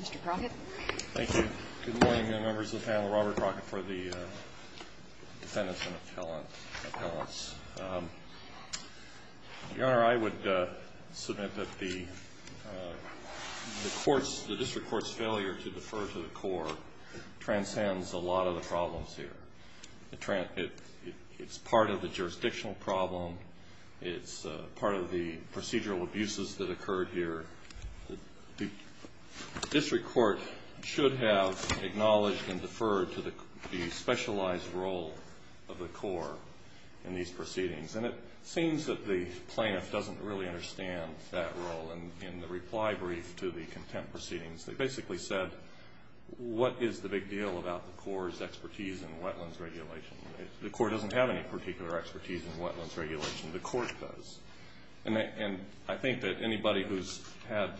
Mr. Crockett. Thank you. Good morning, members of the panel. Robert Crockett for the Defendants and Appellants. Your Honor, I would submit that the court's, the district court's failure to defer to the court transcends a lot of the problems here. It's part of the jurisdictional problem. It's part of the procedural abuses that occurred here. The district court should have acknowledged and deferred to the specialized role of the Corps in these proceedings. And it seems that the plaintiff doesn't really understand that role. And in the reply brief to the contempt proceedings, they basically said, what is the big deal about the Corps' expertise in wetlands regulation? The Corps doesn't have any particular expertise in wetlands regulation. The court does. And I think that anybody who's had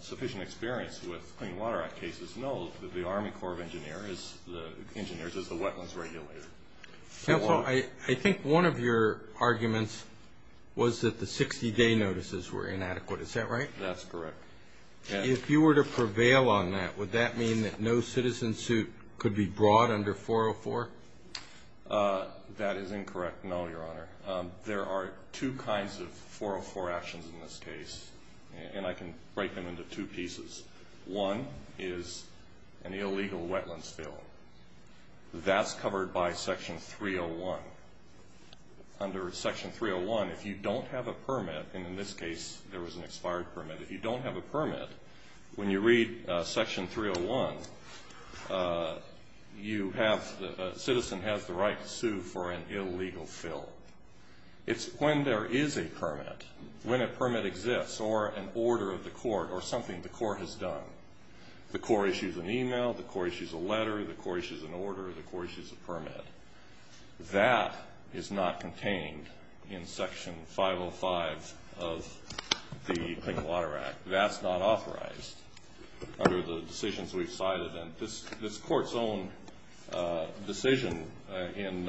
sufficient experience with Clean Water Act cases knows that the Army Corps of Engineers is the wetlands regulator. Counsel, I think one of your arguments was that the 60-day notices were inadequate. Is that right? That's correct. If you were to prevail on that, would that mean that no citizen suit could be brought under 404? That is incorrect, no, Your Honor. There are two kinds of 404 actions in this case, and I can break them into two pieces. One is an illegal wetlands bill. That's covered by Section 301. Under Section 301, if you don't have a permit, and in this case there was an expired permit, if you don't have a permit, when you read Section 301, a citizen has the right to sue for an illegal fill. It's when there is a permit, when a permit exists, or an order of the court, or something the court has done. The Corps issues an email, the Corps issues a letter, the Corps issues an order, the Corps issues a permit. That is not contained in Section 505 of the Clean Water Act. That's not authorized under the decisions we've cited. And this Court's own decision in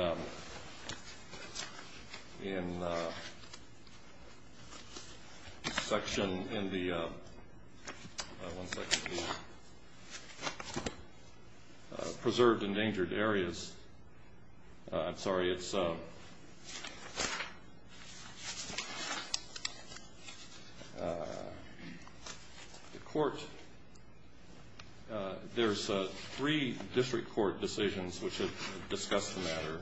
Section, in the Preserved Endangered Areas, I'm sorry, it's, the Court, there's three district court decisions which have discussed the matter,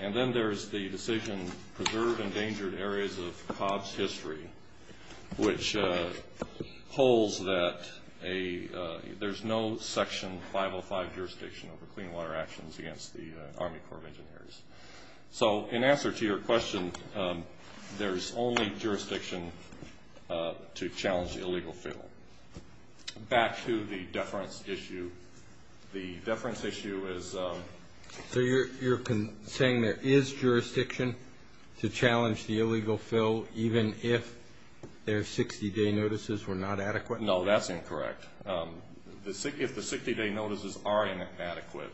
and then there's the decision Preserved Endangered Areas of COBS history, which holds that there's no Section 505 jurisdiction over clean water actions against the Army Corps of Engineers. So, in answer to your question, there's only jurisdiction to challenge the illegal fill. Back to the deference issue. The deference issue is... So you're saying there is jurisdiction to challenge the illegal fill, even if their 60-day notices were not adequate? No, that's incorrect. If the 60-day notices are inadequate,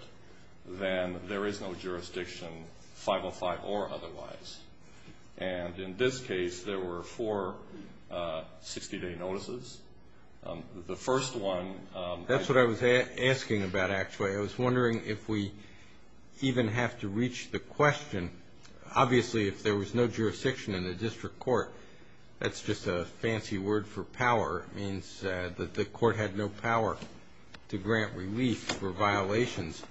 then there is no jurisdiction, 505 or otherwise. And in this case, there were four 60-day notices. The first one... That's what I was asking about, actually. I was wondering if we even have to reach the question. Obviously, if there was no jurisdiction in the district court, that's just a fancy word for power. It means that the Court had no power to grant relief for violations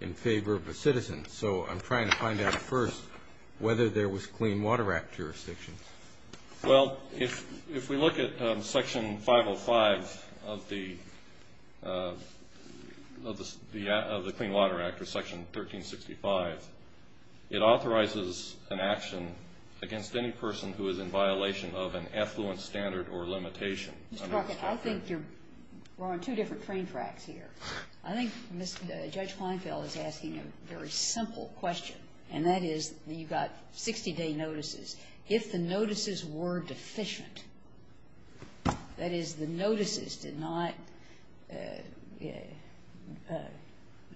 in favor of a citizen. So I'm trying to find out first whether there was Clean Water Act jurisdiction. Well, if we look at Section 505 of the Clean Water Act, or Section 1365, it authorizes an action against any person who is in violation of an affluent standard or limitation. Mr. Brockett, I think we're on two different train tracks here. I think Judge Kleinfeld is asking a very simple question, and that is, you've got 60-day notices. If the notices were deficient, that is, the notices did not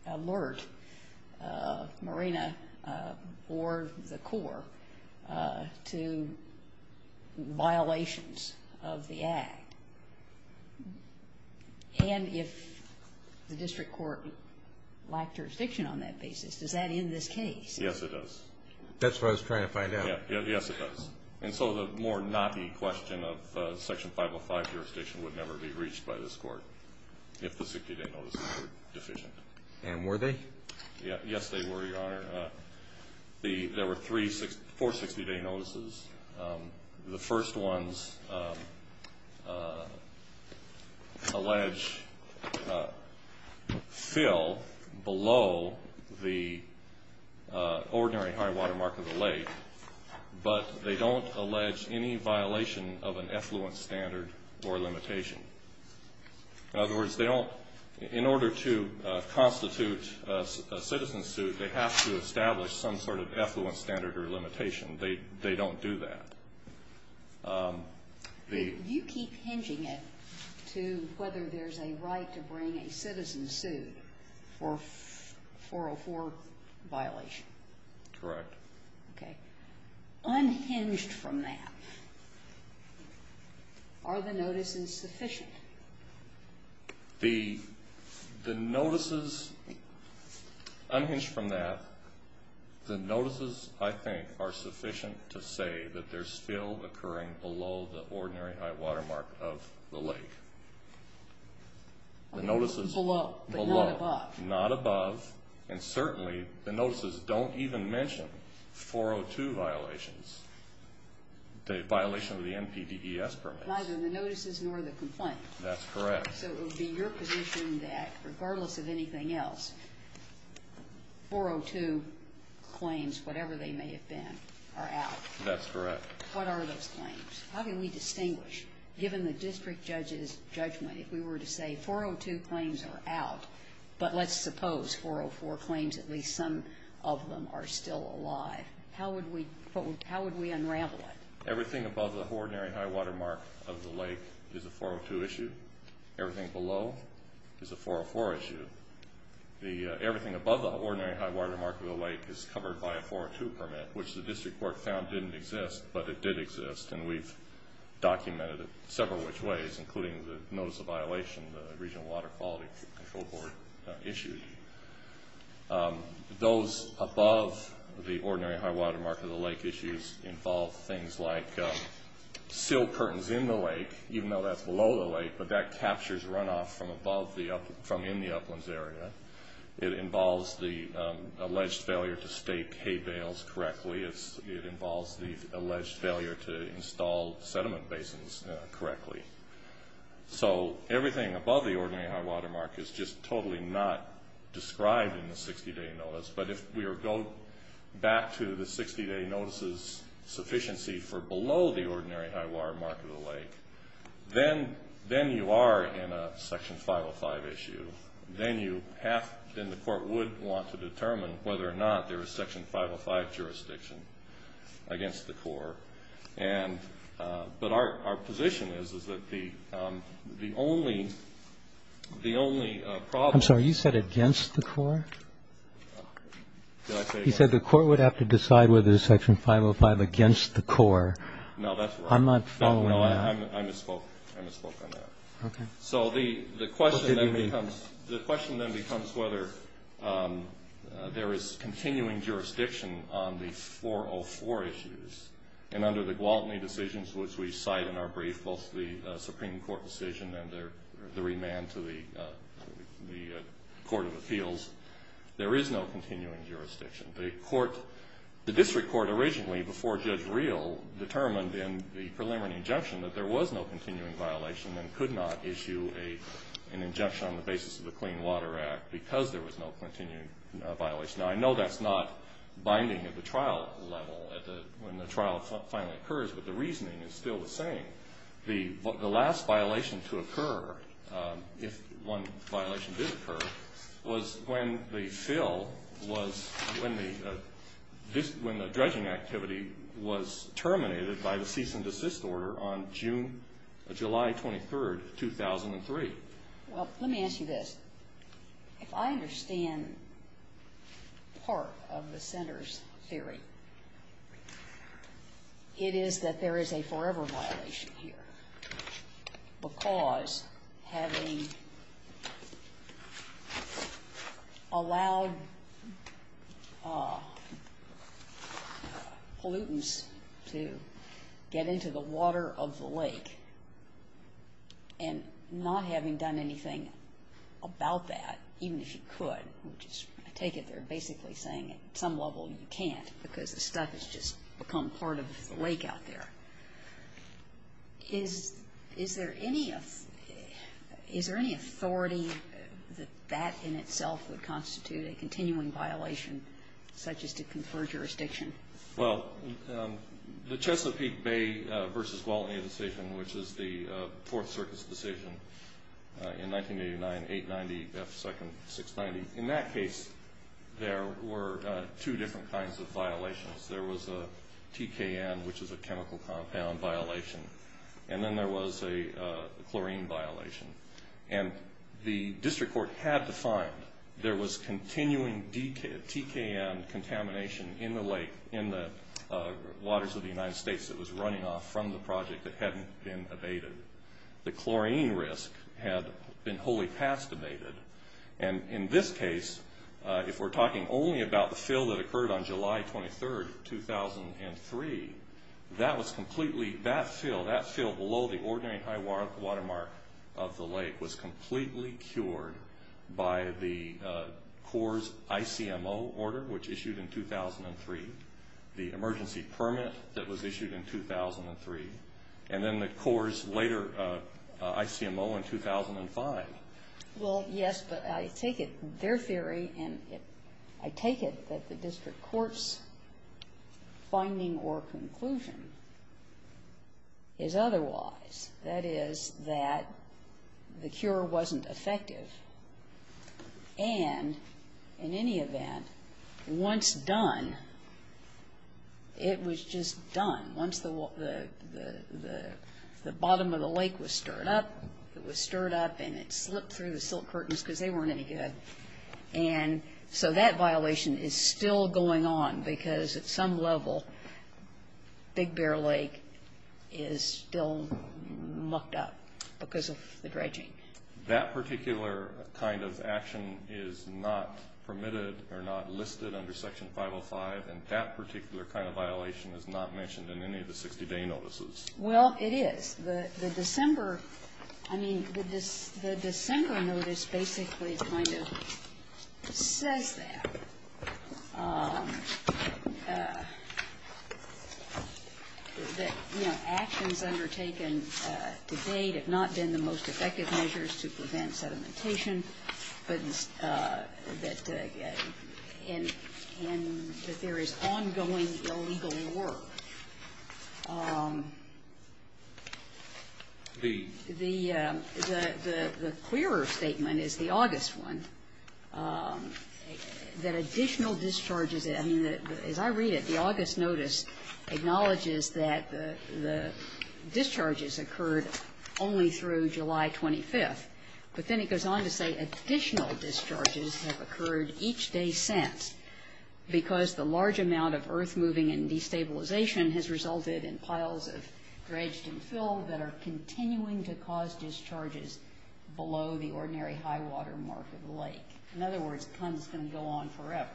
alert Marina or the Corps to violations of the Act, and if the district court lacked jurisdiction on that basis, does that end this case? Yes, it does. That's what I was trying to find out. Yes, it does. And so the more knocky question of Section 505 jurisdiction would never be reached by this Court if the 60-day notices were deficient. And were they? Yes, they were, Your Honor. There were four 60-day notices. The first ones allege fill below the ordinary high water mark of the lake, but they don't constitute a citizen suit. They have to establish some sort of affluent standard or limitation. They don't do that. Do you keep hinging it to whether there's a right to bring a citizen suit for a 404 violation? Correct. Okay. Unhinged from that, are the notices sufficient? The notices, unhinged from that, the notices, I think, are sufficient to say that there's fill occurring below the ordinary high water mark of the lake. Below, but not above. Below, not above, and certainly the notices don't even mention 402 violations, the violation of the NPDES permits. But neither the notices nor the complaint. That's correct. So it would be your position that, regardless of anything else, 402 claims, whatever they may have been, are out? That's correct. What are those claims? How can we distinguish, given the district judge's judgment, if we were to say 402 claims are out, but let's suppose 404 claims, at least some of them, are still alive? How would we unravel it? Everything above the ordinary high water mark of the lake is a 402 issue. Everything below is a 404 issue. Everything above the ordinary high water mark of the lake is covered by a 402 permit, which the district court found didn't exist, but it did exist, and we've documented it several which ways, including the notice of violation the Regional Water Quality Control Board issued. Those above the ordinary high water mark of the lake issues involve things like sealed curtains in the lake, even though that's below the lake, but that captures runoff from in the uplands area. It involves the alleged failure to stake hay bales correctly. It involves the alleged failure to install sediment basins correctly. So everything above the ordinary high water mark is just totally not described in the 60-day notice, but if we go back to the 60-day notice's sufficiency for below the ordinary high water mark of the lake, then you are in a Section 505 issue. Then the court would want to determine whether or not there is Section 505 jurisdiction against the Corps, but our position is, is that the only problem- I'm sorry. You said against the Corps? Did I say that? You said the court would have to decide whether there's Section 505 against the Corps. No, that's right. I'm not following that. No, I misspoke. I misspoke on that. Okay. So the question then becomes whether there is continuing jurisdiction on the 404 issues, and under the Gwaltney decisions, which we cite in our brief, both the Supreme Court decision and the remand to the Court of Appeals, there is no continuing jurisdiction. The district court originally, before Judge Reel, determined in the preliminary injunction that there was no continuing violation and could not issue an injunction on the basis of the Clean Water Act because there was no continuing violation. Now, I know that's not binding at the trial level when the trial finally occurs, but the reasoning is still the same. The last violation to occur, if one violation did occur, was when the fill was-when the dredging activity was terminated by the cease and desist order on June-July 23rd, 2003. Well, let me ask you this. If I understand part of the center's theory, it is that there is a forever violation here because having allowed pollutants to get into the water of the lake and not having done anything about that, even if you could, which I take it they're basically saying at some level you can't because the stuff has just become part of the lake out there. Is there any authority that that in itself would constitute a continuing violation such as to confer jurisdiction? Well, the Chesapeake Bay v. Gwaltney decision, which is the Fourth Circuit's decision in 1989, 890 F. Second 690, in that case there were two different kinds of violations. There was a TKN, which is a chemical compound violation, and then there was a chlorine violation. And the district court had to find there was continuing TKN contamination in the lake-in the waters of the United States that was running off from the project that hadn't been abated. The chlorine risk had been wholly past abated. And in this case, if we're talking only about the fill that occurred on July 23rd, 2003, that fill below the ordinary high water mark of the lake was completely cured by the Corps' ICMO order, which issued in 2003, the emergency permit that was issued in 2003, and then the Corps' later ICMO in 2005. Well, yes, but I take it, their theory, and I take it that the district court's finding or conclusion is otherwise. That is, that the cure wasn't effective, and in any event, once done, it was just done. Once the bottom of the lake was stirred up, it was stirred up and it slipped through the silt curtains because they weren't any good. And so that violation is still going on because at some level, Big Bear Lake is still mucked up because of the dredging. That particular kind of action is not permitted or not listed under Section 505, and that particular kind of violation is not mentioned in any of the 60-day notices. Well, it is. The December, I mean, the December notice basically kind of says that, you know, actions undertaken to date have not been the most effective measures to prevent sedimentation, but that there is ongoing illegal work. The clearer statement is the August one, that additional discharges, I mean, as I read it, the August notice acknowledges that the discharges occurred only through July 25th, but then it goes on to say additional discharges have occurred each day since because the large amount of earth moving and destabilization has resulted in piles of dredged and filled that are continuing to cause discharges below the ordinary high water mark of the lake. In other words, the pun is going to go on forever.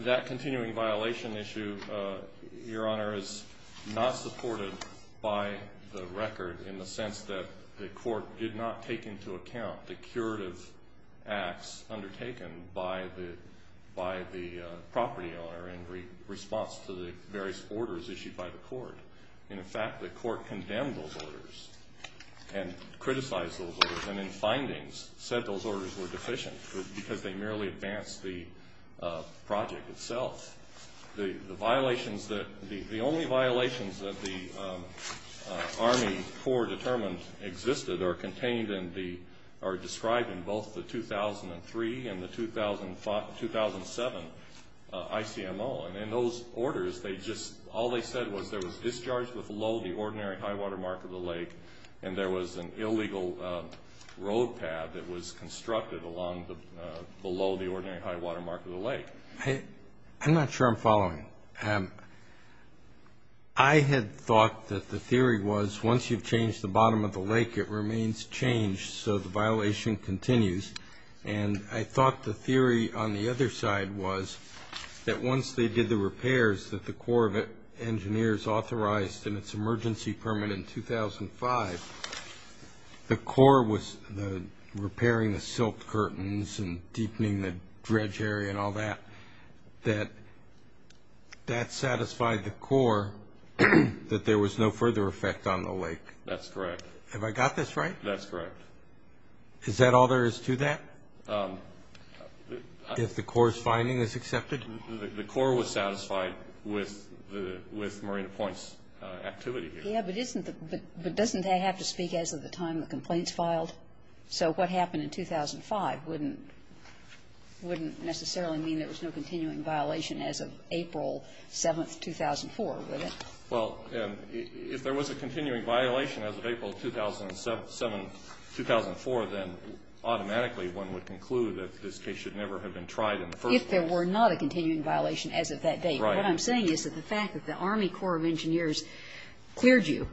That continuing violation issue, Your Honor, is not supported by the record in the sense that the court did not take into account the curative acts undertaken by the property owner in response to the various orders issued by the court. In fact, the court condemned those orders and criticized those orders and in findings said those orders were deficient because they merely advanced the project itself. The violations that, the only violations that the Army Corps determined existed are contained in the, are described in both the 2003 and the 2007 ICMO, and in those orders they just, all they said was there was discharge below the ordinary high water mark of the lake and there was an illegal road path that was constructed along the, below the ordinary high water mark of the lake. I'm not sure I'm following. I had thought that the theory was once you've changed the bottom of the lake, it remains changed, so the violation continues, and I thought the theory on the other side was that once they did the repairs that the Corps of Engineers authorized in its emergency permit in 2005, the Corps was repairing the silt curtains and deepening the dredge area and all that, that that satisfied the Corps that there was no further effect on the lake. That's correct. Have I got this right? That's correct. Is that all there is to that? If the Corps' finding is accepted? The Corps was satisfied with the, with Marina Point's activity here. Yes, but isn't the, but doesn't that have to speak as of the time the complaints filed? So what happened in 2005 wouldn't, wouldn't necessarily mean there was no continuing violation as of April 7, 2004, would it? Well, if there was a continuing violation as of April 2007, 2004, then automatically one would conclude that this case should never have been tried in the first place. If there were not a continuing violation as of that date. Right. What I'm saying is that the fact that the Army Corps of Engineers cleared you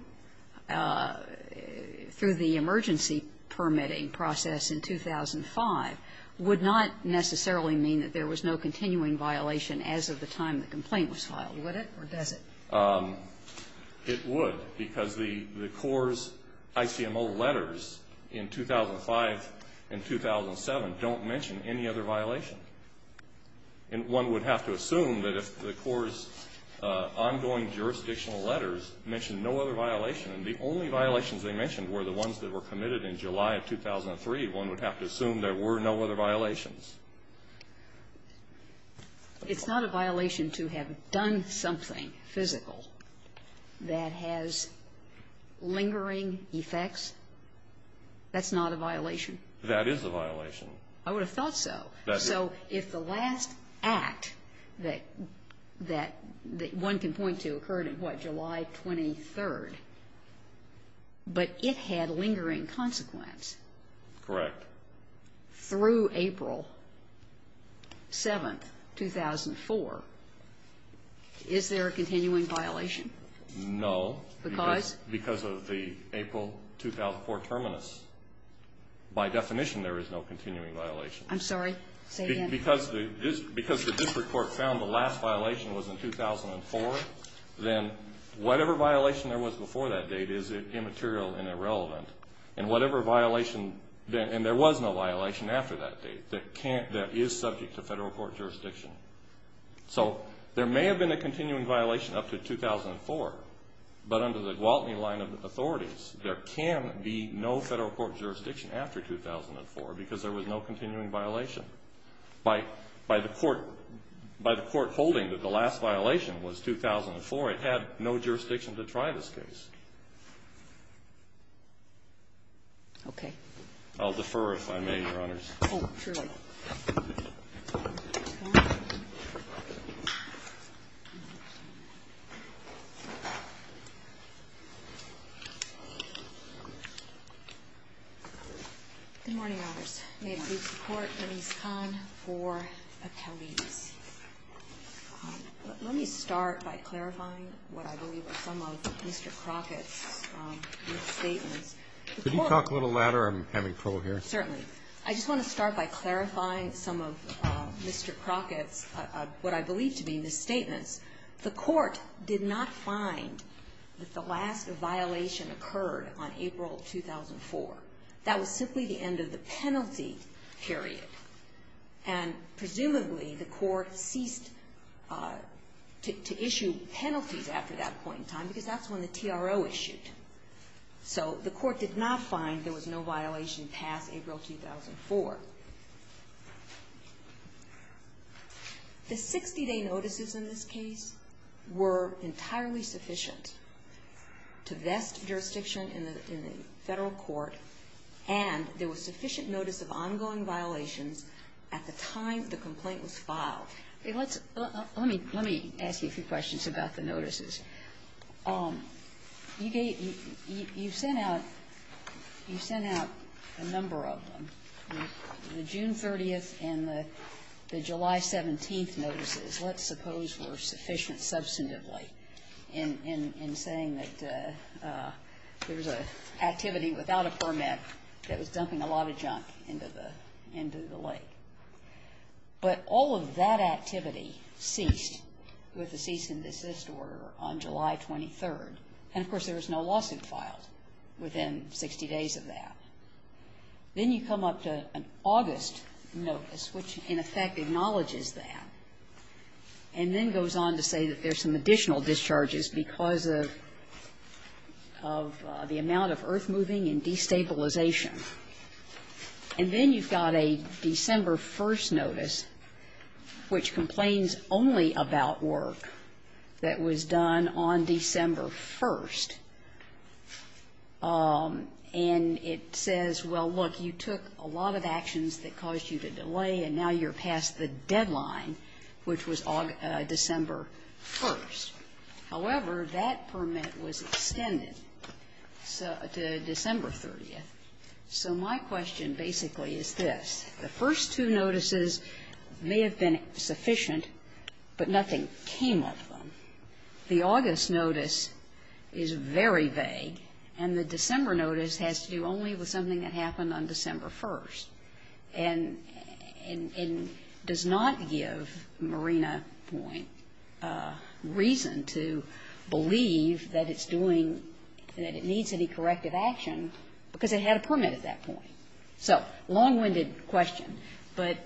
through the emergency permitting process in 2005 would not necessarily mean that there was no continuing violation as of the time the complaint was filed, would it, or does it? It would, because the Corps' ICMO letters in 2005 and 2007 don't mention any other violation. And one would have to assume that if the Corps' ongoing jurisdictional letters mention no other violation, and the only violations they mentioned were the ones that were committed in July of 2003, one would have to assume there were no other violations. It's not a violation to have done something physical that has lingering effects? That's not a violation? That is a violation. I would have thought so. So if the last act that, that one can point to occurred in what, July 23rd, but it had lingering consequence. Correct. But through April 7th, 2004, is there a continuing violation? No. Because? Because of the April 2004 terminus. By definition, there is no continuing violation. I'm sorry, say again. Because the district court found the last violation was in 2004, then whatever violation there was before that date is immaterial and irrelevant. And whatever violation, and there was no violation after that date that can't, that is subject to federal court jurisdiction. So there may have been a continuing violation up to 2004, but under the Gwaltney line of authorities, there can be no federal court jurisdiction after 2004 because there was no continuing violation. By the court holding that the last violation was 2004, it had no jurisdiction to try this case. Okay. I'll defer if I may, Your Honors. Good morning, Your Honors. May it please the Court, Denise Kahn for Appelles. Let me start by clarifying what I believe are some of Mr. Crockett's misstatements. Could you talk a little louder? I'm having trouble here. Certainly. I just want to start by clarifying some of Mr. Crockett's, what I believe to be, misstatements. The court did not find that the last violation occurred on April 2004. That was simply the end of the penalty period, and presumably the court ceased to issue penalties after that point in time because that's when the TRO issued. So the court did not find there was no violation past April 2004. The 60-day notices in this case were entirely sufficient to vest jurisdiction in the Federal court, and there was sufficient notice of ongoing violations at the time the complaint was filed. Let me ask you a few questions about the notices. You sent out a number of them. The June 30th and the July 17th notices, let's suppose, were sufficient substantively in saying that there was an activity without a permit that was dumping a lot of junk into the lake. But all of that activity ceased with the cease and desist order on July 23rd, and, of course, there was no lawsuit filed within 60 days of that. Then you come up to an August notice, which, in effect, acknowledges that, and then goes on to say that there's some additional discharges because of the amount of earth moving and destabilization. And then you've got a December 1st notice, which complains only about work that was done on December 1st, and it says, well, look, you took a lot of actions that caused you to delay, and now you're past the deadline, which was December 1st. However, that permit was extended to December 30th. So my question basically is this. The first two notices may have been sufficient, but nothing came of them. The August notice is very vague, and the December notice has to do only with something that happened on December 1st, and does not give Marina Point reason to believe that it's doing, that it needs any corrective action, because it had a permit at that point. So long-winded question, but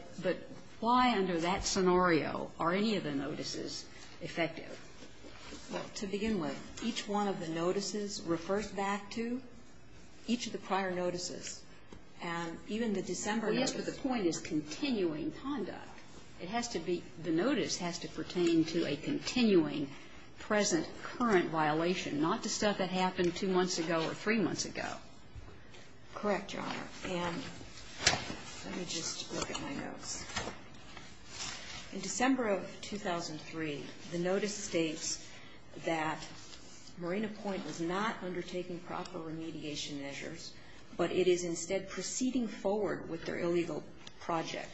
why under that scenario are any of the notices effective? Well, to begin with, each one of the notices refers back to each of the prior notices, and even the December notice. Well, yes, but the point is continuing conduct. It has to be the notice has to pertain to a continuing, present, current violation, not the stuff that happened two months ago or three months ago. Correct, Your Honor. And let me just look at my notes. In December of 2003, the notice states that Marina Point was not undertaking proper remediation measures, but it is instead proceeding forward with their illegal project.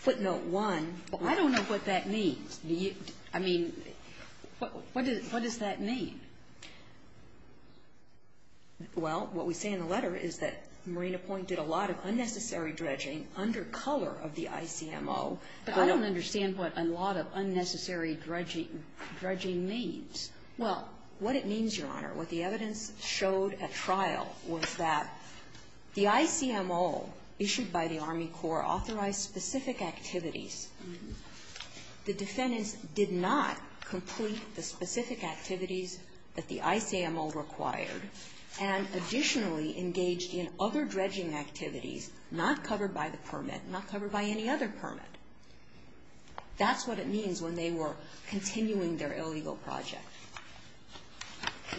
Footnote 1. Well, I don't know what that means. I mean, what does that mean? Well, what we say in the letter is that Marina Point did a lot of unnecessary dredging under color of the ICMO. But I don't understand what a lot of unnecessary dredging means. Well, what it means, Your Honor, what the evidence showed at trial was that the ICMO issued by the Army Corps authorized specific activities. The defendants did not complete the specific activities that the ICMO required and additionally engaged in other dredging activities not covered by the permit, not covered by any other permit. That's what it means when they were continuing their illegal project.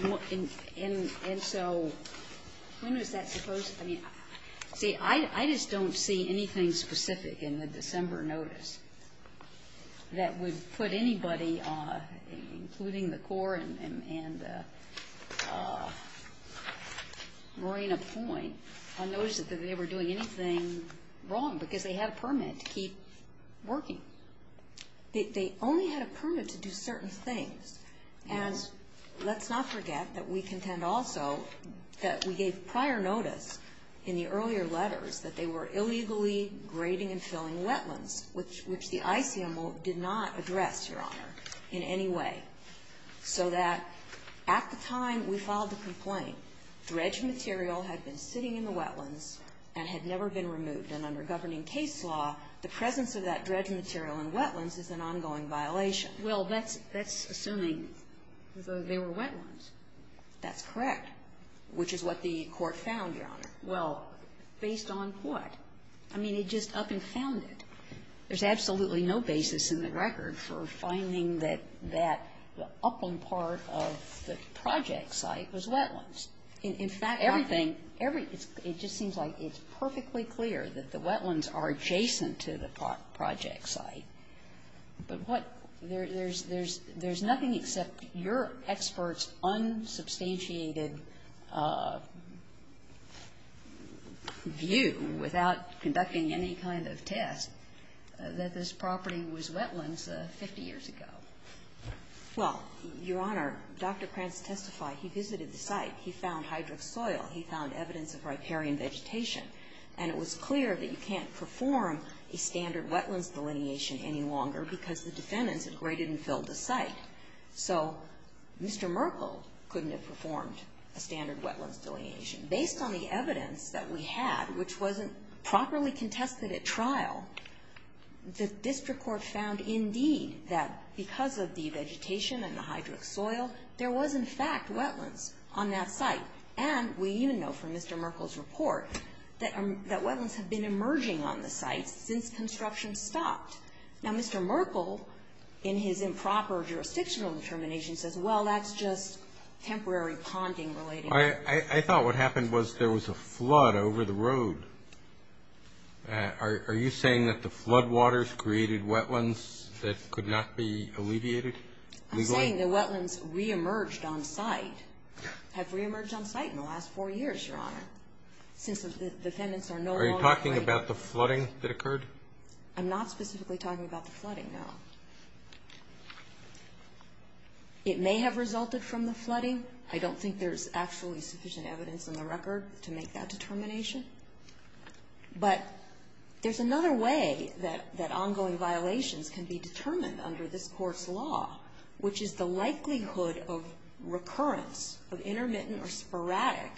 And so when was that supposed to be? See, I just don't see anything specific in the December notice that would put anybody, including the Corps and Marina Point, unnoticed that they were doing anything wrong because they had a permit to keep working. They only had a permit to do certain things. And let's not forget that we contend also that we gave prior notice in the earlier letters that they were illegally grading and filling wetlands, which the ICMO did not address, Your Honor, in any way, so that at the time we filed the complaint, dredged material had been sitting in the wetlands and had never been removed. And under governing case law, the presence of that dredged material in wetlands is an ongoing violation. Well, that's assuming that they were wetlands. That's correct, which is what the Court found, Your Honor. Well, based on what? I mean, it just up and found it. There's absolutely no basis in the record for finding that that upland part of the project site was wetlands. In fact, everything, everything, it just seems like it's perfectly clear that the wetlands are adjacent to the project site. But what? There's nothing except your expert's unsubstantiated view, without conducting any kind of test, that this property was wetlands 50 years ago. Well, Your Honor, Dr. Prance testified. He visited the site. He found hydric soil. He found evidence of riparian vegetation. And it was clear that you can't perform a standard wetlands delineation any longer because the defendants had graded and filled the site. So Mr. Merkle couldn't have performed a standard wetlands delineation. Based on the evidence that we had, which wasn't properly contested at trial, the district court found, indeed, that because of the vegetation and the hydric soil, there was, in fact, wetlands on that site. And we even know from Mr. Merkle's report that wetlands have been emerging on the site since construction stopped. Now, Mr. Merkle, in his improper jurisdictional determination, says, well, that's just temporary ponding related. I thought what happened was there was a flood over the road. Are you saying that the floodwaters created wetlands that could not be alleviated? I'm saying the wetlands reemerged on site. Have reemerged on site in the last four years, Your Honor, since the defendants are no longer afraid. Are you talking about the flooding that occurred? I'm not specifically talking about the flooding, no. It may have resulted from the flooding. I don't think there's actually sufficient evidence in the record to make that determination. But there's another way that ongoing violations can be determined under this occurrence of intermittent or sporadic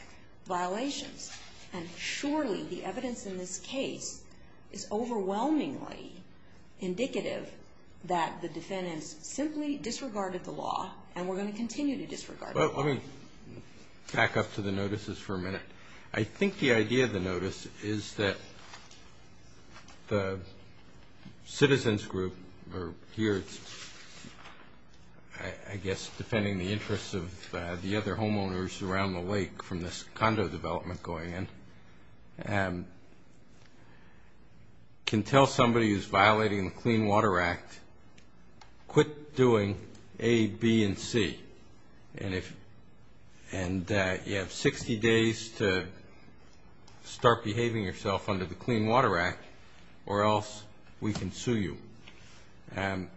violations. And surely the evidence in this case is overwhelmingly indicative that the defendants simply disregarded the law and were going to continue to disregard the law. Well, let me back up to the notices for a minute. I think the idea of the notice is that the citizens group, or here it's, I guess, depending on the interests of the other homeowners around the lake from this condo development going in, can tell somebody who's violating the Clean Water Act, quit doing A, B, and C. And you have 60 days to start behaving yourself under the Clean Water Act or else we can sue you. And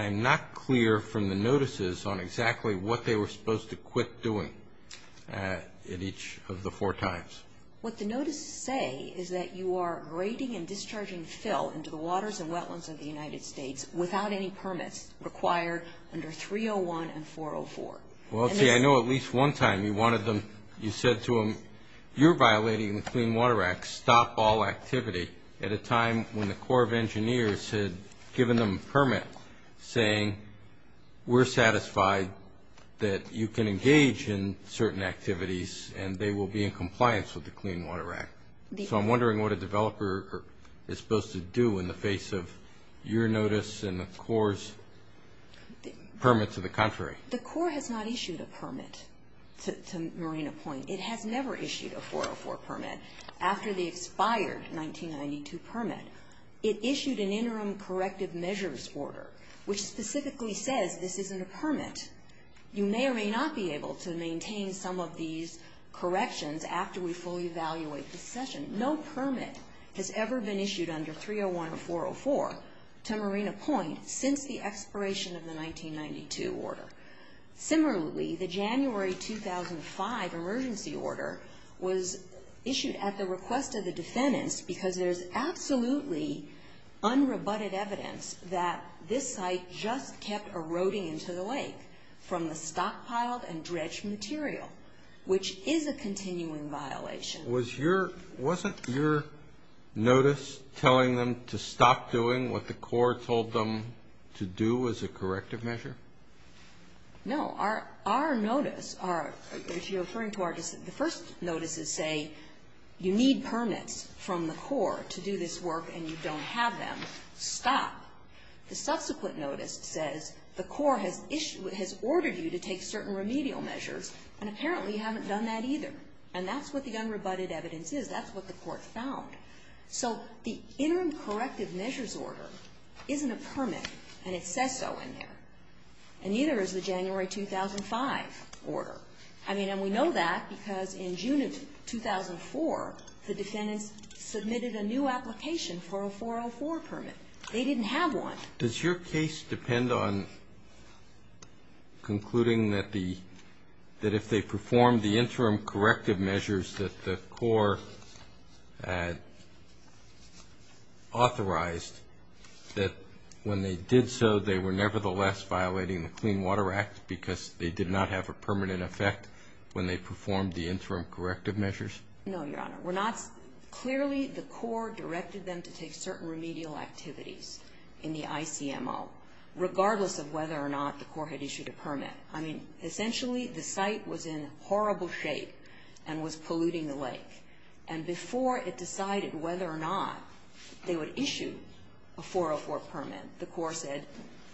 I'm not clear from the notices on exactly what they were supposed to quit doing at each of the four times. What the notices say is that you are grading and discharging fill into the waters and wetlands of the United States without any permits required under 301 and 404. Well, see, I know at least one time you wanted them, you said to them, you're violating the Clean Water Act. Stop all activity at a time when the Corps of Engineers had given them a permit saying we're satisfied that you can engage in certain activities and they will be in compliance with the Clean Water Act. So I'm wondering what a developer is supposed to do in the face of your notice and the Corps' permit to the contrary. The Corps has not issued a permit to Marina Point. It has never issued a 404 permit. After the expired 1992 permit, it issued an interim corrective measures order which specifically says this isn't a permit. You may or may not be able to maintain some of these corrections after we fully evaluate the session. No permit has ever been issued under 301 or 404 to Marina Point since the expiration of the 1992 order. Similarly, the January 2005 emergency order was issued at the request of the defendants because there's absolutely unrebutted evidence that this site just kept eroding into the lake from the stockpiled and dredged material, which is a continuing violation. Wasn't your notice telling them to stop doing what the Corps told them to do as a corrective measure? No. Our notice, if you're referring to our decision, the first notice is say you need permits from the Corps to do this work and you don't have them. Stop. The subsequent notice says the Corps has ordered you to take certain remedial measures, and apparently you haven't done that either. And that's what the unrebutted evidence is. That's what the Court found. So the interim corrective measures order isn't a permit, and it says so in there. And neither is the January 2005 order. I mean, and we know that because in June of 2004, the defendants submitted a new application for a 404 permit. They didn't have one. Does your case depend on concluding that the – that if they performed the interim corrective measures that the Corps had authorized, that when they did so they were nevertheless violating the Clean Water Act because they did not have a permanent effect when they performed the interim corrective measures? No, Your Honor. We're not – clearly the Corps directed them to take certain remedial activities in the ICMO, regardless of whether or not the Corps had issued a permit. I mean, essentially the site was in horrible shape and was polluting the lake. And before it decided whether or not they would issue a 404 permit, the Corps said,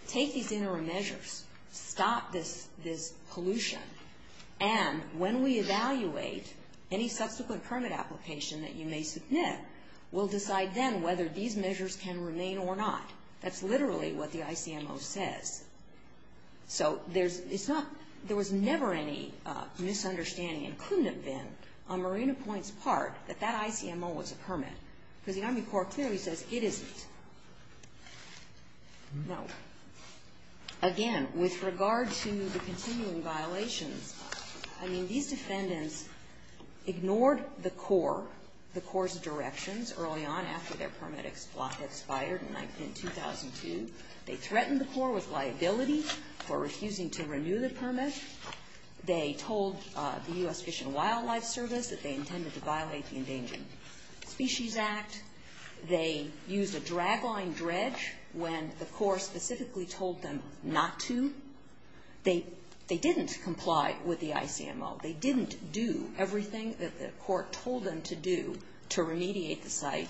take these interim measures. Stop this pollution. And when we evaluate any subsequent permit application that you may submit, we'll decide then whether these measures can remain or not. That's literally what the ICMO says. So there's – it's not – there was never any misunderstanding, and couldn't have been, on Marina Point's part that that ICMO was a permit. Because the Army Corps clearly says it isn't. No. Again, with regard to the continuing violations, I mean, these defendants ignored the Corps, the Corps' directions early on after their permit expired in 2002. They threatened the Corps with liability for refusing to renew the permit. They told the U.S. Fish and Wildlife Service that they intended to violate the Endangered Species Act. They used a drag-line dredge when the Corps specifically told them not to. They didn't comply with the ICMO. They didn't do everything that the Corps told them to do to remediate the site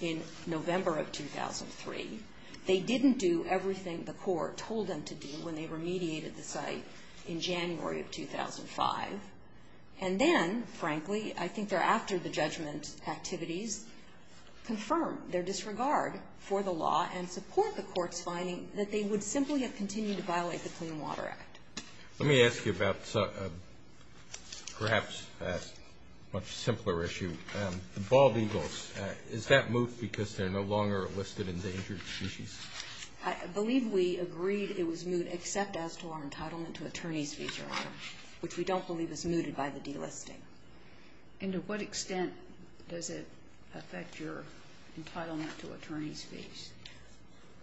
in November of 2003. They didn't do everything the Corps told them to do when they remediated the site in January of 2005. And then, frankly, I think thereafter the judgment activities confirm their disregard for the law and support the Court's finding that they would simply have continued to violate the Clean Water Act. Let me ask you about perhaps a much simpler issue, the bald eagles. Is that moot because they're no longer a listed endangered species? I believe we agreed it was moot except as to our entitlement to attorney's fees earlier, which we don't believe is mooted by the delisting. And to what extent does it affect your entitlement to attorney's fees?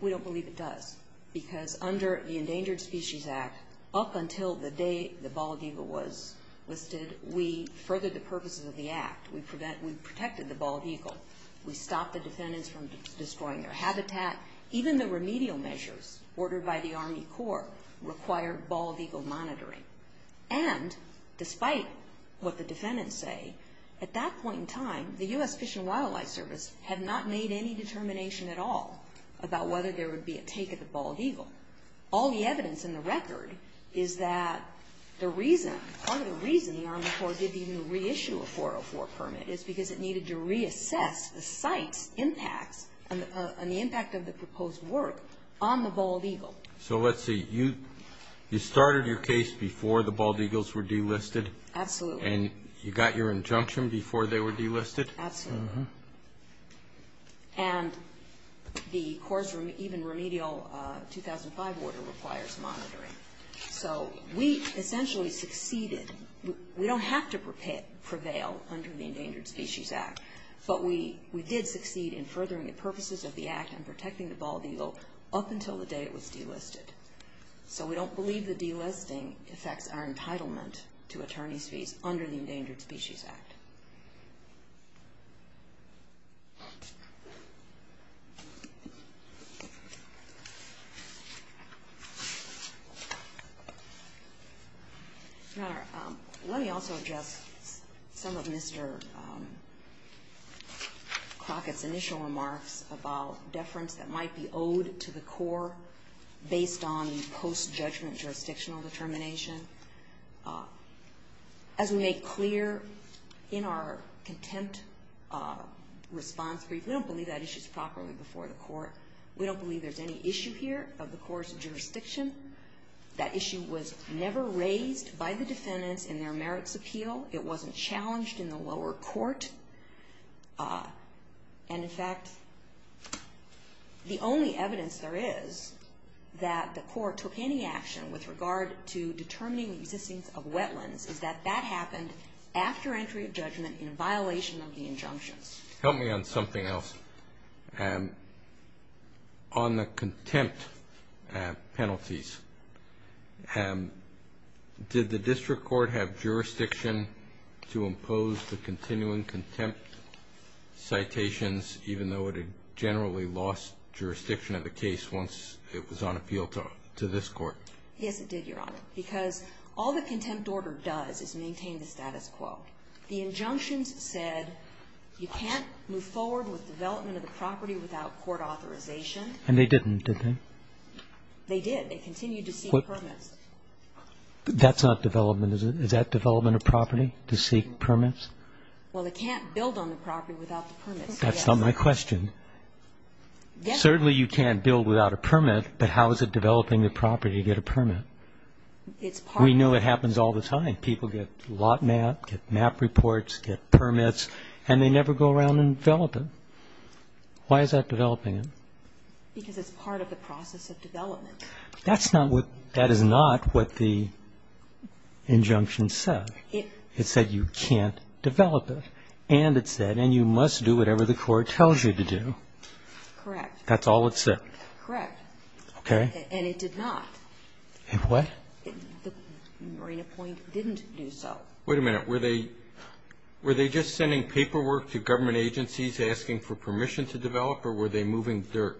We don't believe it does because under the Endangered Species Act, up until the day the bald eagle was listed, we furthered the purposes of the Act. We protected the bald eagle. We stopped the defendants from destroying their habitat. Even the remedial measures ordered by the Army Corps required bald eagle monitoring. And despite what the defendants say, at that point in time, the U.S. Fish and Wildlife Service had not made any determination at all about whether there would be a take of the bald eagle. All the evidence in the record is that the reason, part of the reason the Army Corps did even reissue a 404 permit is because it needed to reassess the site's impacts and the impact of the proposed work on the bald eagle. So let's see. You started your case before the bald eagles were delisted? Absolutely. And you got your injunction before they were delisted? Absolutely. And the Corps' even remedial 2005 order requires monitoring. So we essentially succeeded. We don't have to prevail under the Endangered Species Act, but we did succeed in furthering the purposes of the Act and protecting the bald eagle up until the day it was delisted. So we don't believe the delisting affects our entitlement to attorney's fees under the Endangered Species Act. Your Honor, let me also address some of Mr. Crockett's initial remarks about deference that might be owed to the Corps based on post-judgment jurisdictional determination. As we made clear in our contempt response brief, we don't believe that issue is properly before the Court. We don't believe there's any issue here of the Corps' jurisdiction. That issue was never raised by the defendants in their merits appeal. It wasn't challenged in the lower court. And in fact, the only evidence there is that the Court took any action with regard to determining the existence of wetlands is that that happened after entry of judgment in violation of the injunctions. Help me on something else. On the contempt penalties, did the District Court have jurisdiction to impose the continuing contempt citations even though it had generally lost jurisdiction of the case once it was on appeal to this Court? Yes, it did, Your Honor. Because all the contempt order does is maintain the status quo. The injunctions said you can't move forward with development of the property without court authorization. And they didn't, did they? They did. They continued to seek permits. That's not development, is it? Is that development of property, to seek permits? Well, they can't build on the property without the permits. That's not my question. Certainly you can't build without a permit, but how is it developing the property without a permit? We know it happens all the time. People get lot map, get map reports, get permits, and they never go around and develop it. Why is that developing it? Because it's part of the process of development. That is not what the injunction said. It said you can't develop it. And it said, and you must do whatever the Court tells you to do. Correct. That's all it said. Correct. Okay. And it did not. It what? The Marina Point didn't do so. Wait a minute. Were they just sending paperwork to government agencies asking for permission to develop, or were they moving dirt?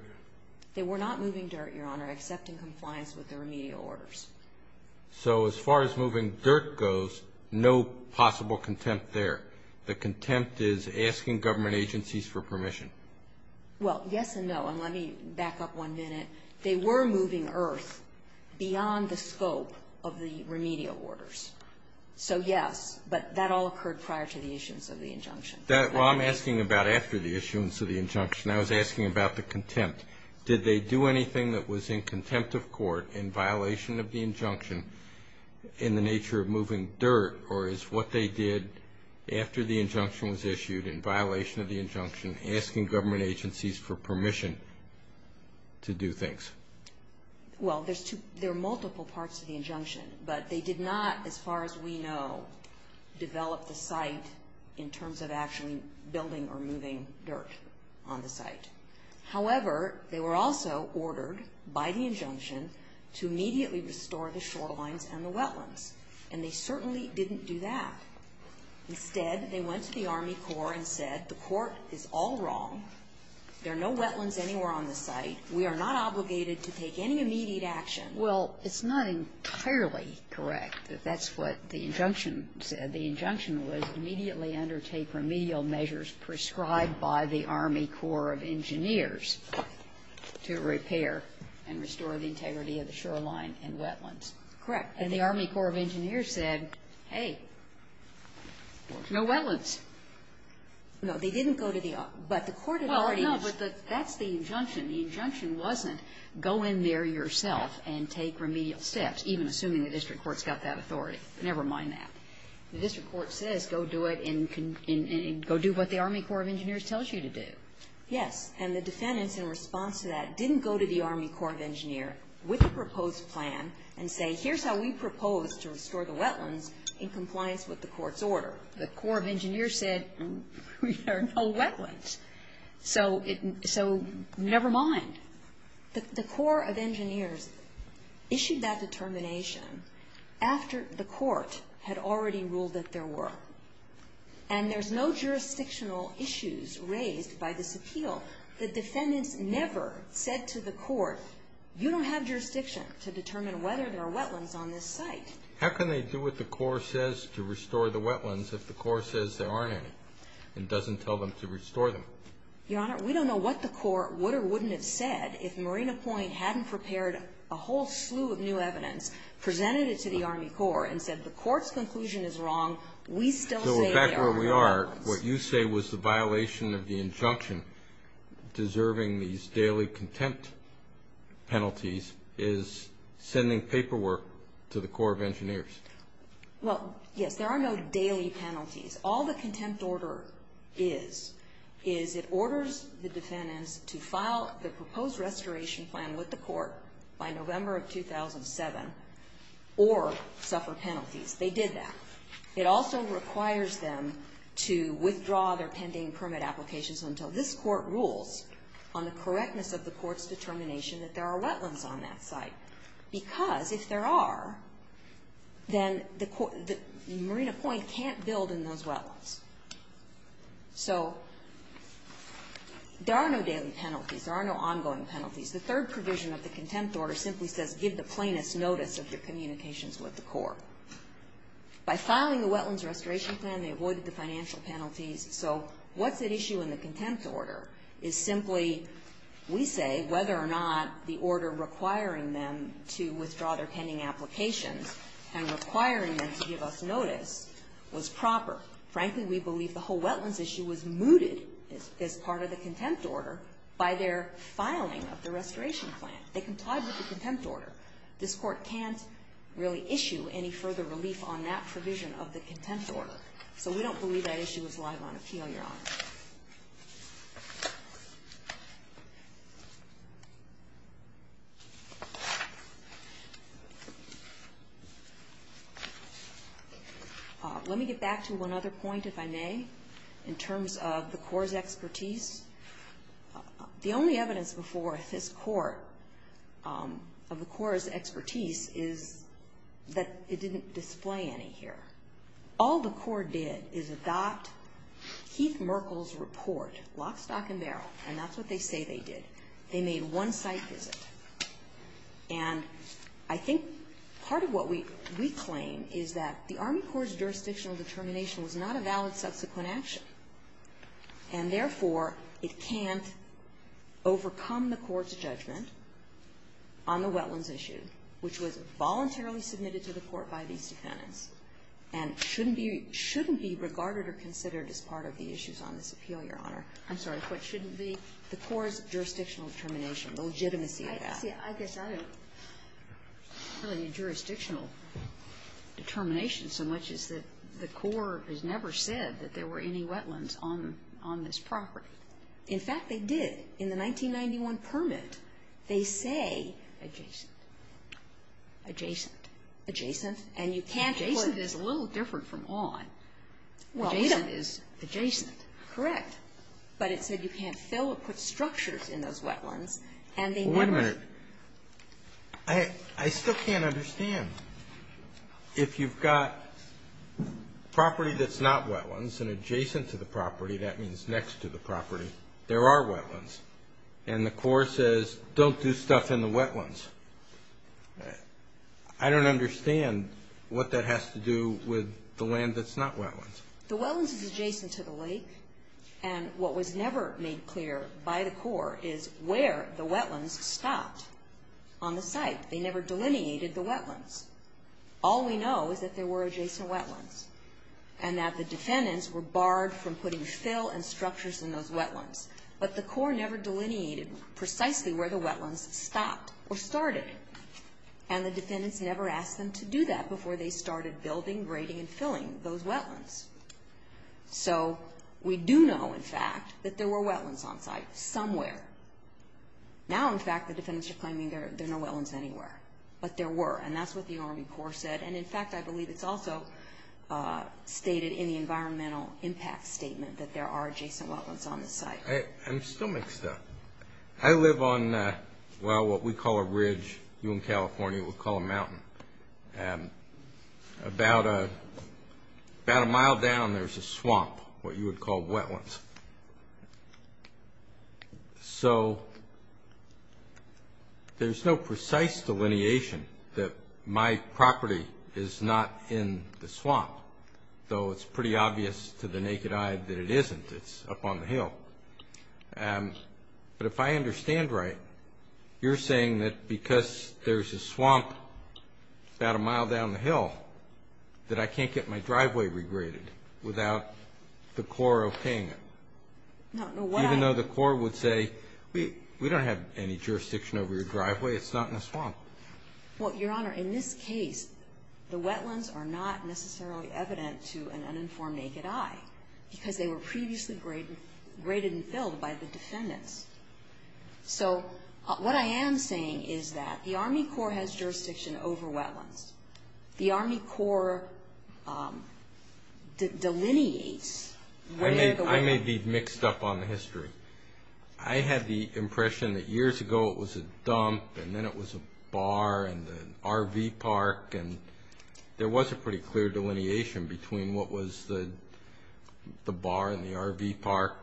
They were not moving dirt, Your Honor, except in compliance with the remedial orders. So as far as moving dirt goes, no possible contempt there. The contempt is asking government agencies for permission. Well, yes and no. And let me back up one minute. They were moving earth beyond the scope of the remedial orders. So, yes, but that all occurred prior to the issuance of the injunction. Well, I'm asking about after the issuance of the injunction. I was asking about the contempt. Did they do anything that was in contempt of court in violation of the injunction in the nature of moving dirt, or is what they did after the injunction was issued in violation of the injunction asking government agencies for permission to do things? Well, there are multiple parts to the injunction. But they did not, as far as we know, develop the site in terms of actually building or moving dirt on the site. However, they were also ordered by the injunction to immediately restore the shorelines and the wetlands. And they certainly didn't do that. Instead, they went to the Army Corps and said, the court is all wrong. There are no wetlands anywhere on the site. We are not obligated to take any immediate action. Well, it's not entirely correct that that's what the injunction said. The injunction was immediately undertake remedial measures prescribed by the Army Corps of Engineers to repair and restore the integrity of the shoreline and wetlands. Correct. And the Army Corps of Engineers said, hey, there's no wetlands. No. They didn't go to the Army. But the court had already ---- Well, no. But that's the injunction. The injunction wasn't go in there yourself and take remedial steps, even assuming the district court's got that authority. Never mind that. The district court says go do it and go do what the Army Corps of Engineers tells you to do. And the defendants, in response to that, didn't go to the Army Corps of Engineers with a proposed plan and say, here's how we propose to restore the wetlands in compliance with the court's order. The Corps of Engineers said, there are no wetlands. So never mind. The Corps of Engineers issued that determination after the court had already ruled that there were. And there's no jurisdictional issues raised by this appeal. The defendants never said to the court, you don't have jurisdiction to determine whether there are wetlands on this site. How can they do what the Corps says to restore the wetlands if the Corps says there aren't any and doesn't tell them to restore them? Your Honor, we don't know what the court would or wouldn't have said if Marina Point hadn't prepared a whole slew of new evidence, presented it to the Army Corps, and said the court's conclusion is wrong. We still say there are no wetlands. Your Honor, what you say was the violation of the injunction deserving these daily contempt penalties is sending paperwork to the Corps of Engineers. Well, yes, there are no daily penalties. All the contempt order is is it orders the defendants to file the proposed restoration plan with the court by November of 2007 or suffer penalties. They did that. It also requires them to withdraw their pending permit applications until this court rules on the correctness of the court's determination that there are wetlands on that site. Because if there are, then the Marina Point can't build in those wetlands. So there are no daily penalties. There are no ongoing penalties. The third provision of the contempt order simply says give the plaintiffs notice of their communications with the Corps. By filing the wetlands restoration plan, they avoided the financial penalties. So what's at issue in the contempt order is simply we say whether or not the order requiring them to withdraw their pending applications and requiring them to give us notice was proper. Frankly, we believe the whole wetlands issue was mooted as part of the contempt order by their filing of the restoration plan. They complied with the contempt order. This court can't really issue any further relief on that provision of the contempt order. So we don't believe that issue is live on appeal, Your Honor. Let me get back to one other point, if I may, in terms of the Corps' expertise. The only evidence before this court of the Corps' expertise is that it didn't display any here. All the Corps did is adopt Keith Merkel's report, lock, stock, and barrel. And that's what they say they did. They made one site visit. And I think part of what we claim is that the Army Corps' jurisdictional determination was not a valid subsequent action. And therefore, it can't overcome the court's judgment on the wetlands issue, which was voluntarily submitted to the court by these defendants, and shouldn't be regarded or considered as part of the issues on this appeal, Your Honor. I'm sorry, what shouldn't be? The Corps' jurisdictional determination, the legitimacy of that. See, I guess I don't really need jurisdictional determination so much as that the Corps has never said that there were any wetlands on this property. In fact, they did. In the 1991 permit, they say adjacent. Adjacent. Adjacent. And you can't put it. Adjacent is a little different from on. Adjacent is adjacent. Correct. But it said you can't fill or put structures in those wetlands, and they never did. Well, wait a minute. I still can't understand. If you've got property that's not wetlands and adjacent to the property, that means next to the property, there are wetlands. And the Corps says don't do stuff in the wetlands. I don't understand what that has to do with the land that's not wetlands. The wetlands is adjacent to the lake. And what was never made clear by the Corps is where the wetlands stopped on the site. They never delineated the wetlands. All we know is that there were adjacent wetlands and that the defendants were barred from putting fill and structures in those wetlands. But the Corps never delineated precisely where the wetlands stopped or started, and the defendants never asked them to do that before they started building, grading, and filling those wetlands. So we do know, in fact, that there were wetlands on site somewhere. Now, in fact, the defendants are claiming there are no wetlands anywhere. But there were, and that's what the Army Corps said. And, in fact, I believe it's also stated in the environmental impact statement that there are adjacent wetlands on the site. I'm still mixed up. I live on, well, what we call a ridge. You in California would call a mountain. About a mile down, there's a swamp, what you would call wetlands. So there's no precise delineation that my property is not in the swamp, though it's pretty obvious to the naked eye that it isn't. It's up on the hill. But if I understand right, you're saying that because there's a swamp about a mile down the hill, that I can't get my driveway regraded without the Corps okaying it. Even though the Corps would say, we don't have any jurisdiction over your driveway, it's not in the swamp. Well, Your Honor, in this case, the wetlands are not necessarily evident to an uninformed naked eye because they were previously graded and filled by the defendants. So what I am saying is that the Army Corps has jurisdiction over wetlands. The Army Corps delineates where the wetlands are. I may be mixed up on the history. I had the impression that years ago it was a dump, and then it was a bar and an RV park, and there was a pretty clear delineation between what was the bar and the RV park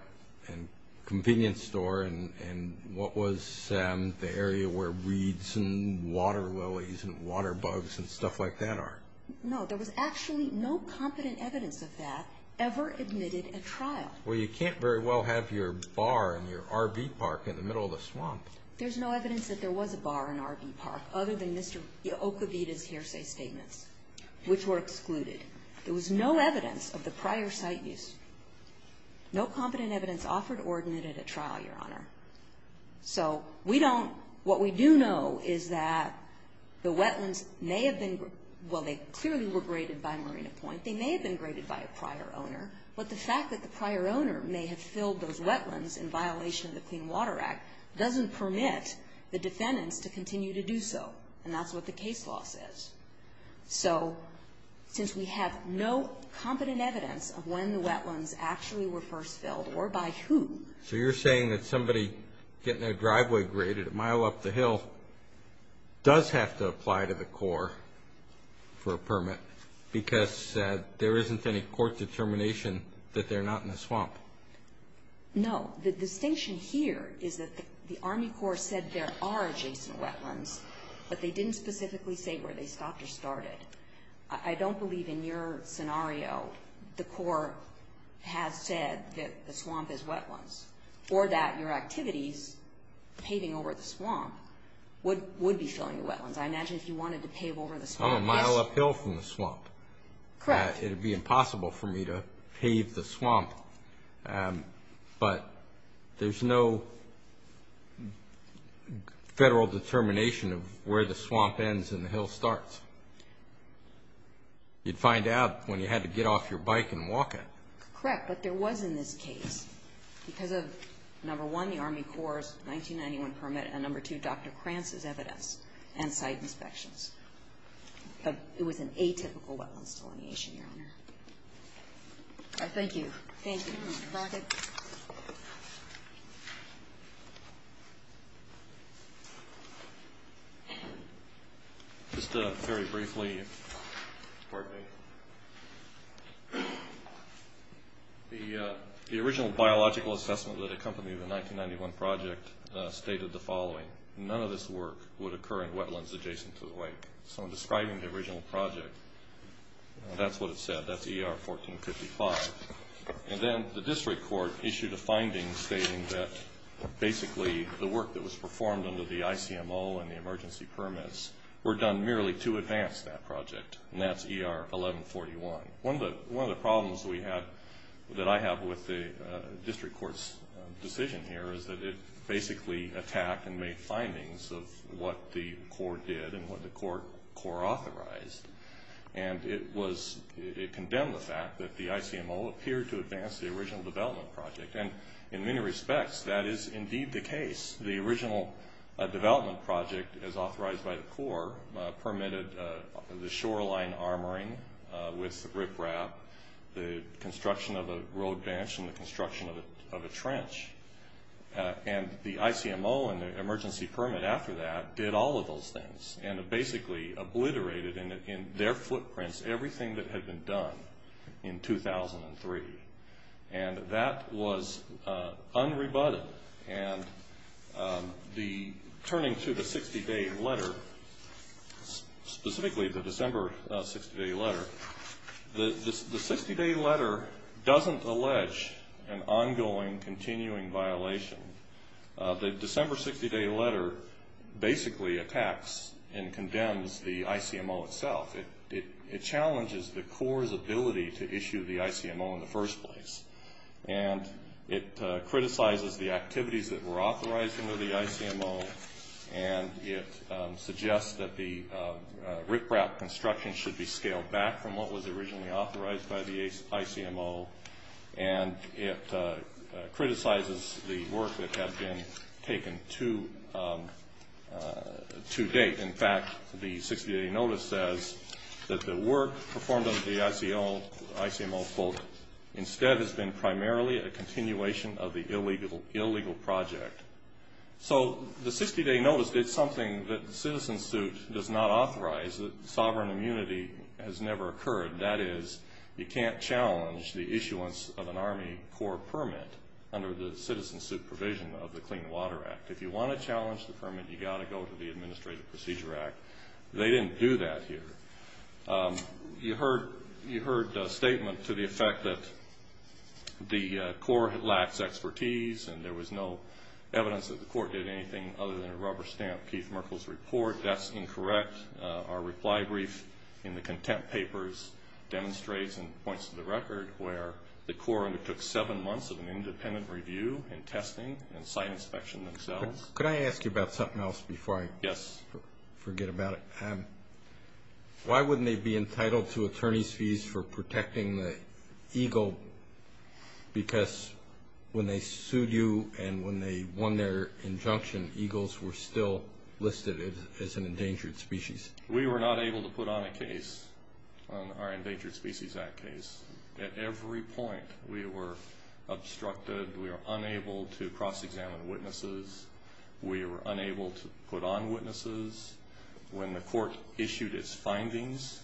and convenience store and what was the area where reeds and water lilies and water bugs and stuff like that are. No, there was actually no competent evidence of that ever admitted at trial. Well, you can't very well have your bar and your RV park in the middle of the swamp. There's no evidence that there was a bar and RV park other than Mr. Okavita's hearsay statements, which were excluded. There was no evidence of the prior site use. No competent evidence offered or admitted at trial, Your Honor. So we don't ñ what we do know is that the wetlands may have been ñ well, they clearly were graded by Marina Point. They may have been graded by a prior owner, but the fact that the prior owner may have filled those wetlands in violation of the Clean Water Act doesn't permit the defendants to continue to do so, and that's what the case law says. So since we have no competent evidence of when the wetlands actually were first filled or by who ñ So you're saying that somebody getting their driveway graded a mile up the hill does have to apply to the Corps for a permit because there isn't any court determination that they're not in the swamp. No. The distinction here is that the Army Corps said there are adjacent wetlands, but they didn't specifically say where they stopped or started. I don't believe in your scenario the Corps has said that the swamp is wetlands or that your activities paving over the swamp would be filling the wetlands. I imagine if you wanted to pave over the swamp ñ I'm a mile uphill from the swamp. Correct. It would be impossible for me to pave the swamp, but there's no federal determination of where the swamp ends and the hill starts. You'd find out when you had to get off your bike and walk it. Correct, but there was in this case, because of, number one, the Army Corps' 1991 permit and, number two, Dr. Krantz's evidence and site inspections. It was an atypical wetlands delineation, Your Honor. All right, thank you. Thank you. Just very briefly, the original biological assessment that accompanied the 1991 project stated the following. None of this work would occur in wetlands adjacent to the lake. So I'm describing the original project. That's what it said. That's ER 1455. And then the district court issued a finding stating that, basically, the work that was performed under the ICMO and the emergency permits were done merely to advance that project, and that's ER 1141. One of the problems that I have with the district court's decision here is that it basically attacked and made findings of what the Corps did and what the Corps authorized, and it condemned the fact that the ICMO appeared to advance the original development project. And in many respects, that is indeed the case. The original development project, as authorized by the Corps, permitted the shoreline armoring with riprap, the construction of a road bench, and the construction of a trench. And the ICMO and the emergency permit after that did all of those things and basically obliterated in their footprints everything that had been done in 2003. And that was unrebutted. And turning to the 60-day letter, specifically the December 60-day letter, the 60-day letter doesn't allege an ongoing, continuing violation. The December 60-day letter basically attacks and condemns the ICMO itself. It challenges the Corps' ability to issue the ICMO in the first place, and it criticizes the activities that were authorized under the ICMO, and it suggests that the riprap construction should be scaled back from what was originally authorized by the ICMO, and it criticizes the work that had been taken to date. In fact, the 60-day notice says that the work performed under the ICMO instead has been primarily a continuation of the illegal project. So the 60-day notice did something that the citizen suit does not authorize. Sovereign immunity has never occurred. That is, you can't challenge the issuance of an Army Corps permit under the citizen suit provision of the Clean Water Act. If you want to challenge the permit, you've got to go to the Administrative Procedure Act. They didn't do that here. You heard a statement to the effect that the Corps lacks expertise and there was no evidence that the Corps did anything other than a rubber stamp. Keith Merkel's report, that's incorrect. Our reply brief in the contempt papers demonstrates and points to the record where the Corps undertook seven months of an independent review and testing and site inspection themselves. Could I ask you about something else before I forget about it? Yes. Why wouldn't they be entitled to attorney's fees for protecting the Eagle? Because when they sued you and when they won their injunction, eagles were still listed as an endangered species. We were not able to put on a case on our Endangered Species Act case. At every point we were obstructed. We were unable to cross-examine witnesses. We were unable to put on witnesses. When the court issued its findings,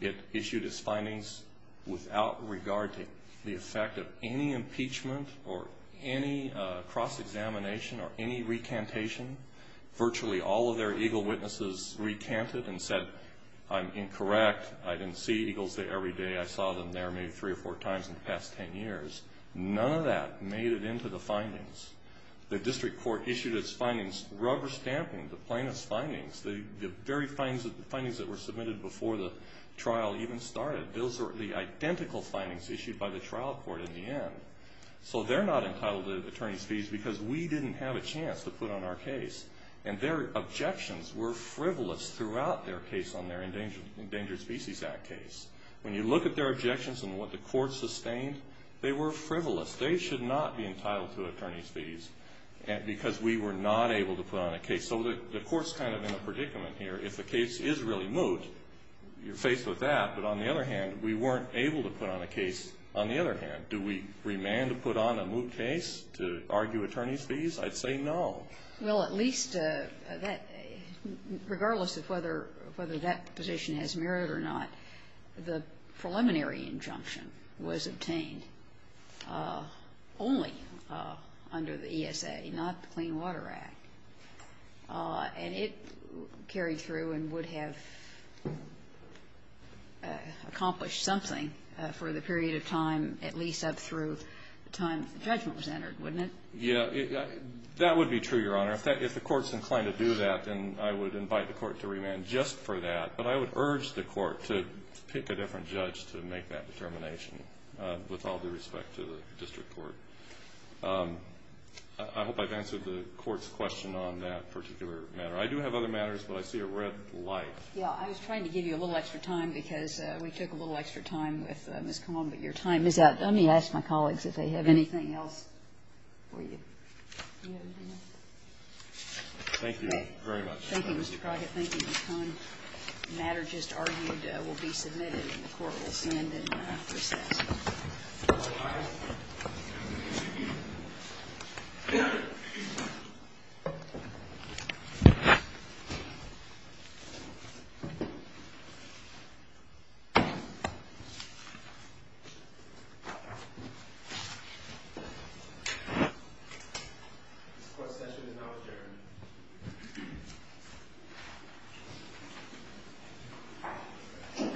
it issued its findings without regard to the effect of any impeachment or any cross-examination or any recantation. Virtually all of their eagle witnesses recanted and said, I'm incorrect, I didn't see eagles every day. I saw them there maybe three or four times in the past ten years. None of that made it into the findings. The very findings that were submitted before the trial even started, those were the identical findings issued by the trial court in the end. So they're not entitled to attorney's fees because we didn't have a chance to put on our case. And their objections were frivolous throughout their case on their Endangered Species Act case. When you look at their objections and what the court sustained, they were frivolous. They should not be entitled to attorney's fees because we were not able to put on a case. So the court's kind of in a predicament here. If a case is really moot, you're faced with that. But on the other hand, we weren't able to put on a case. On the other hand, do we remand to put on a moot case to argue attorney's fees? I'd say no. Well, at least that, regardless of whether that position has merit or not, the preliminary injunction was obtained only under the ESA, not the Clean Water Act. And it carried through and would have accomplished something for the period of time, at least up through the time the judgment was entered, wouldn't it? Yeah. That would be true, Your Honor. If the court's inclined to do that, then I would invite the court to remand just for that. But I would urge the court to pick a different judge to make that determination with all due respect to the district court. I hope I've answered the court's question on that particular matter. I do have other matters, but I see a red light. Yeah. I was trying to give you a little extra time because we took a little extra time with Ms. Cohn. But your time is up. Let me ask my colleagues if they have anything else for you. Do you have anything else? Thank you very much. Thank you, Mr. Crockett. Thank you, Ms. Cohn. The matter just argued will be submitted and the court will send and process. All rise. This court session is now adjourned. Thank you.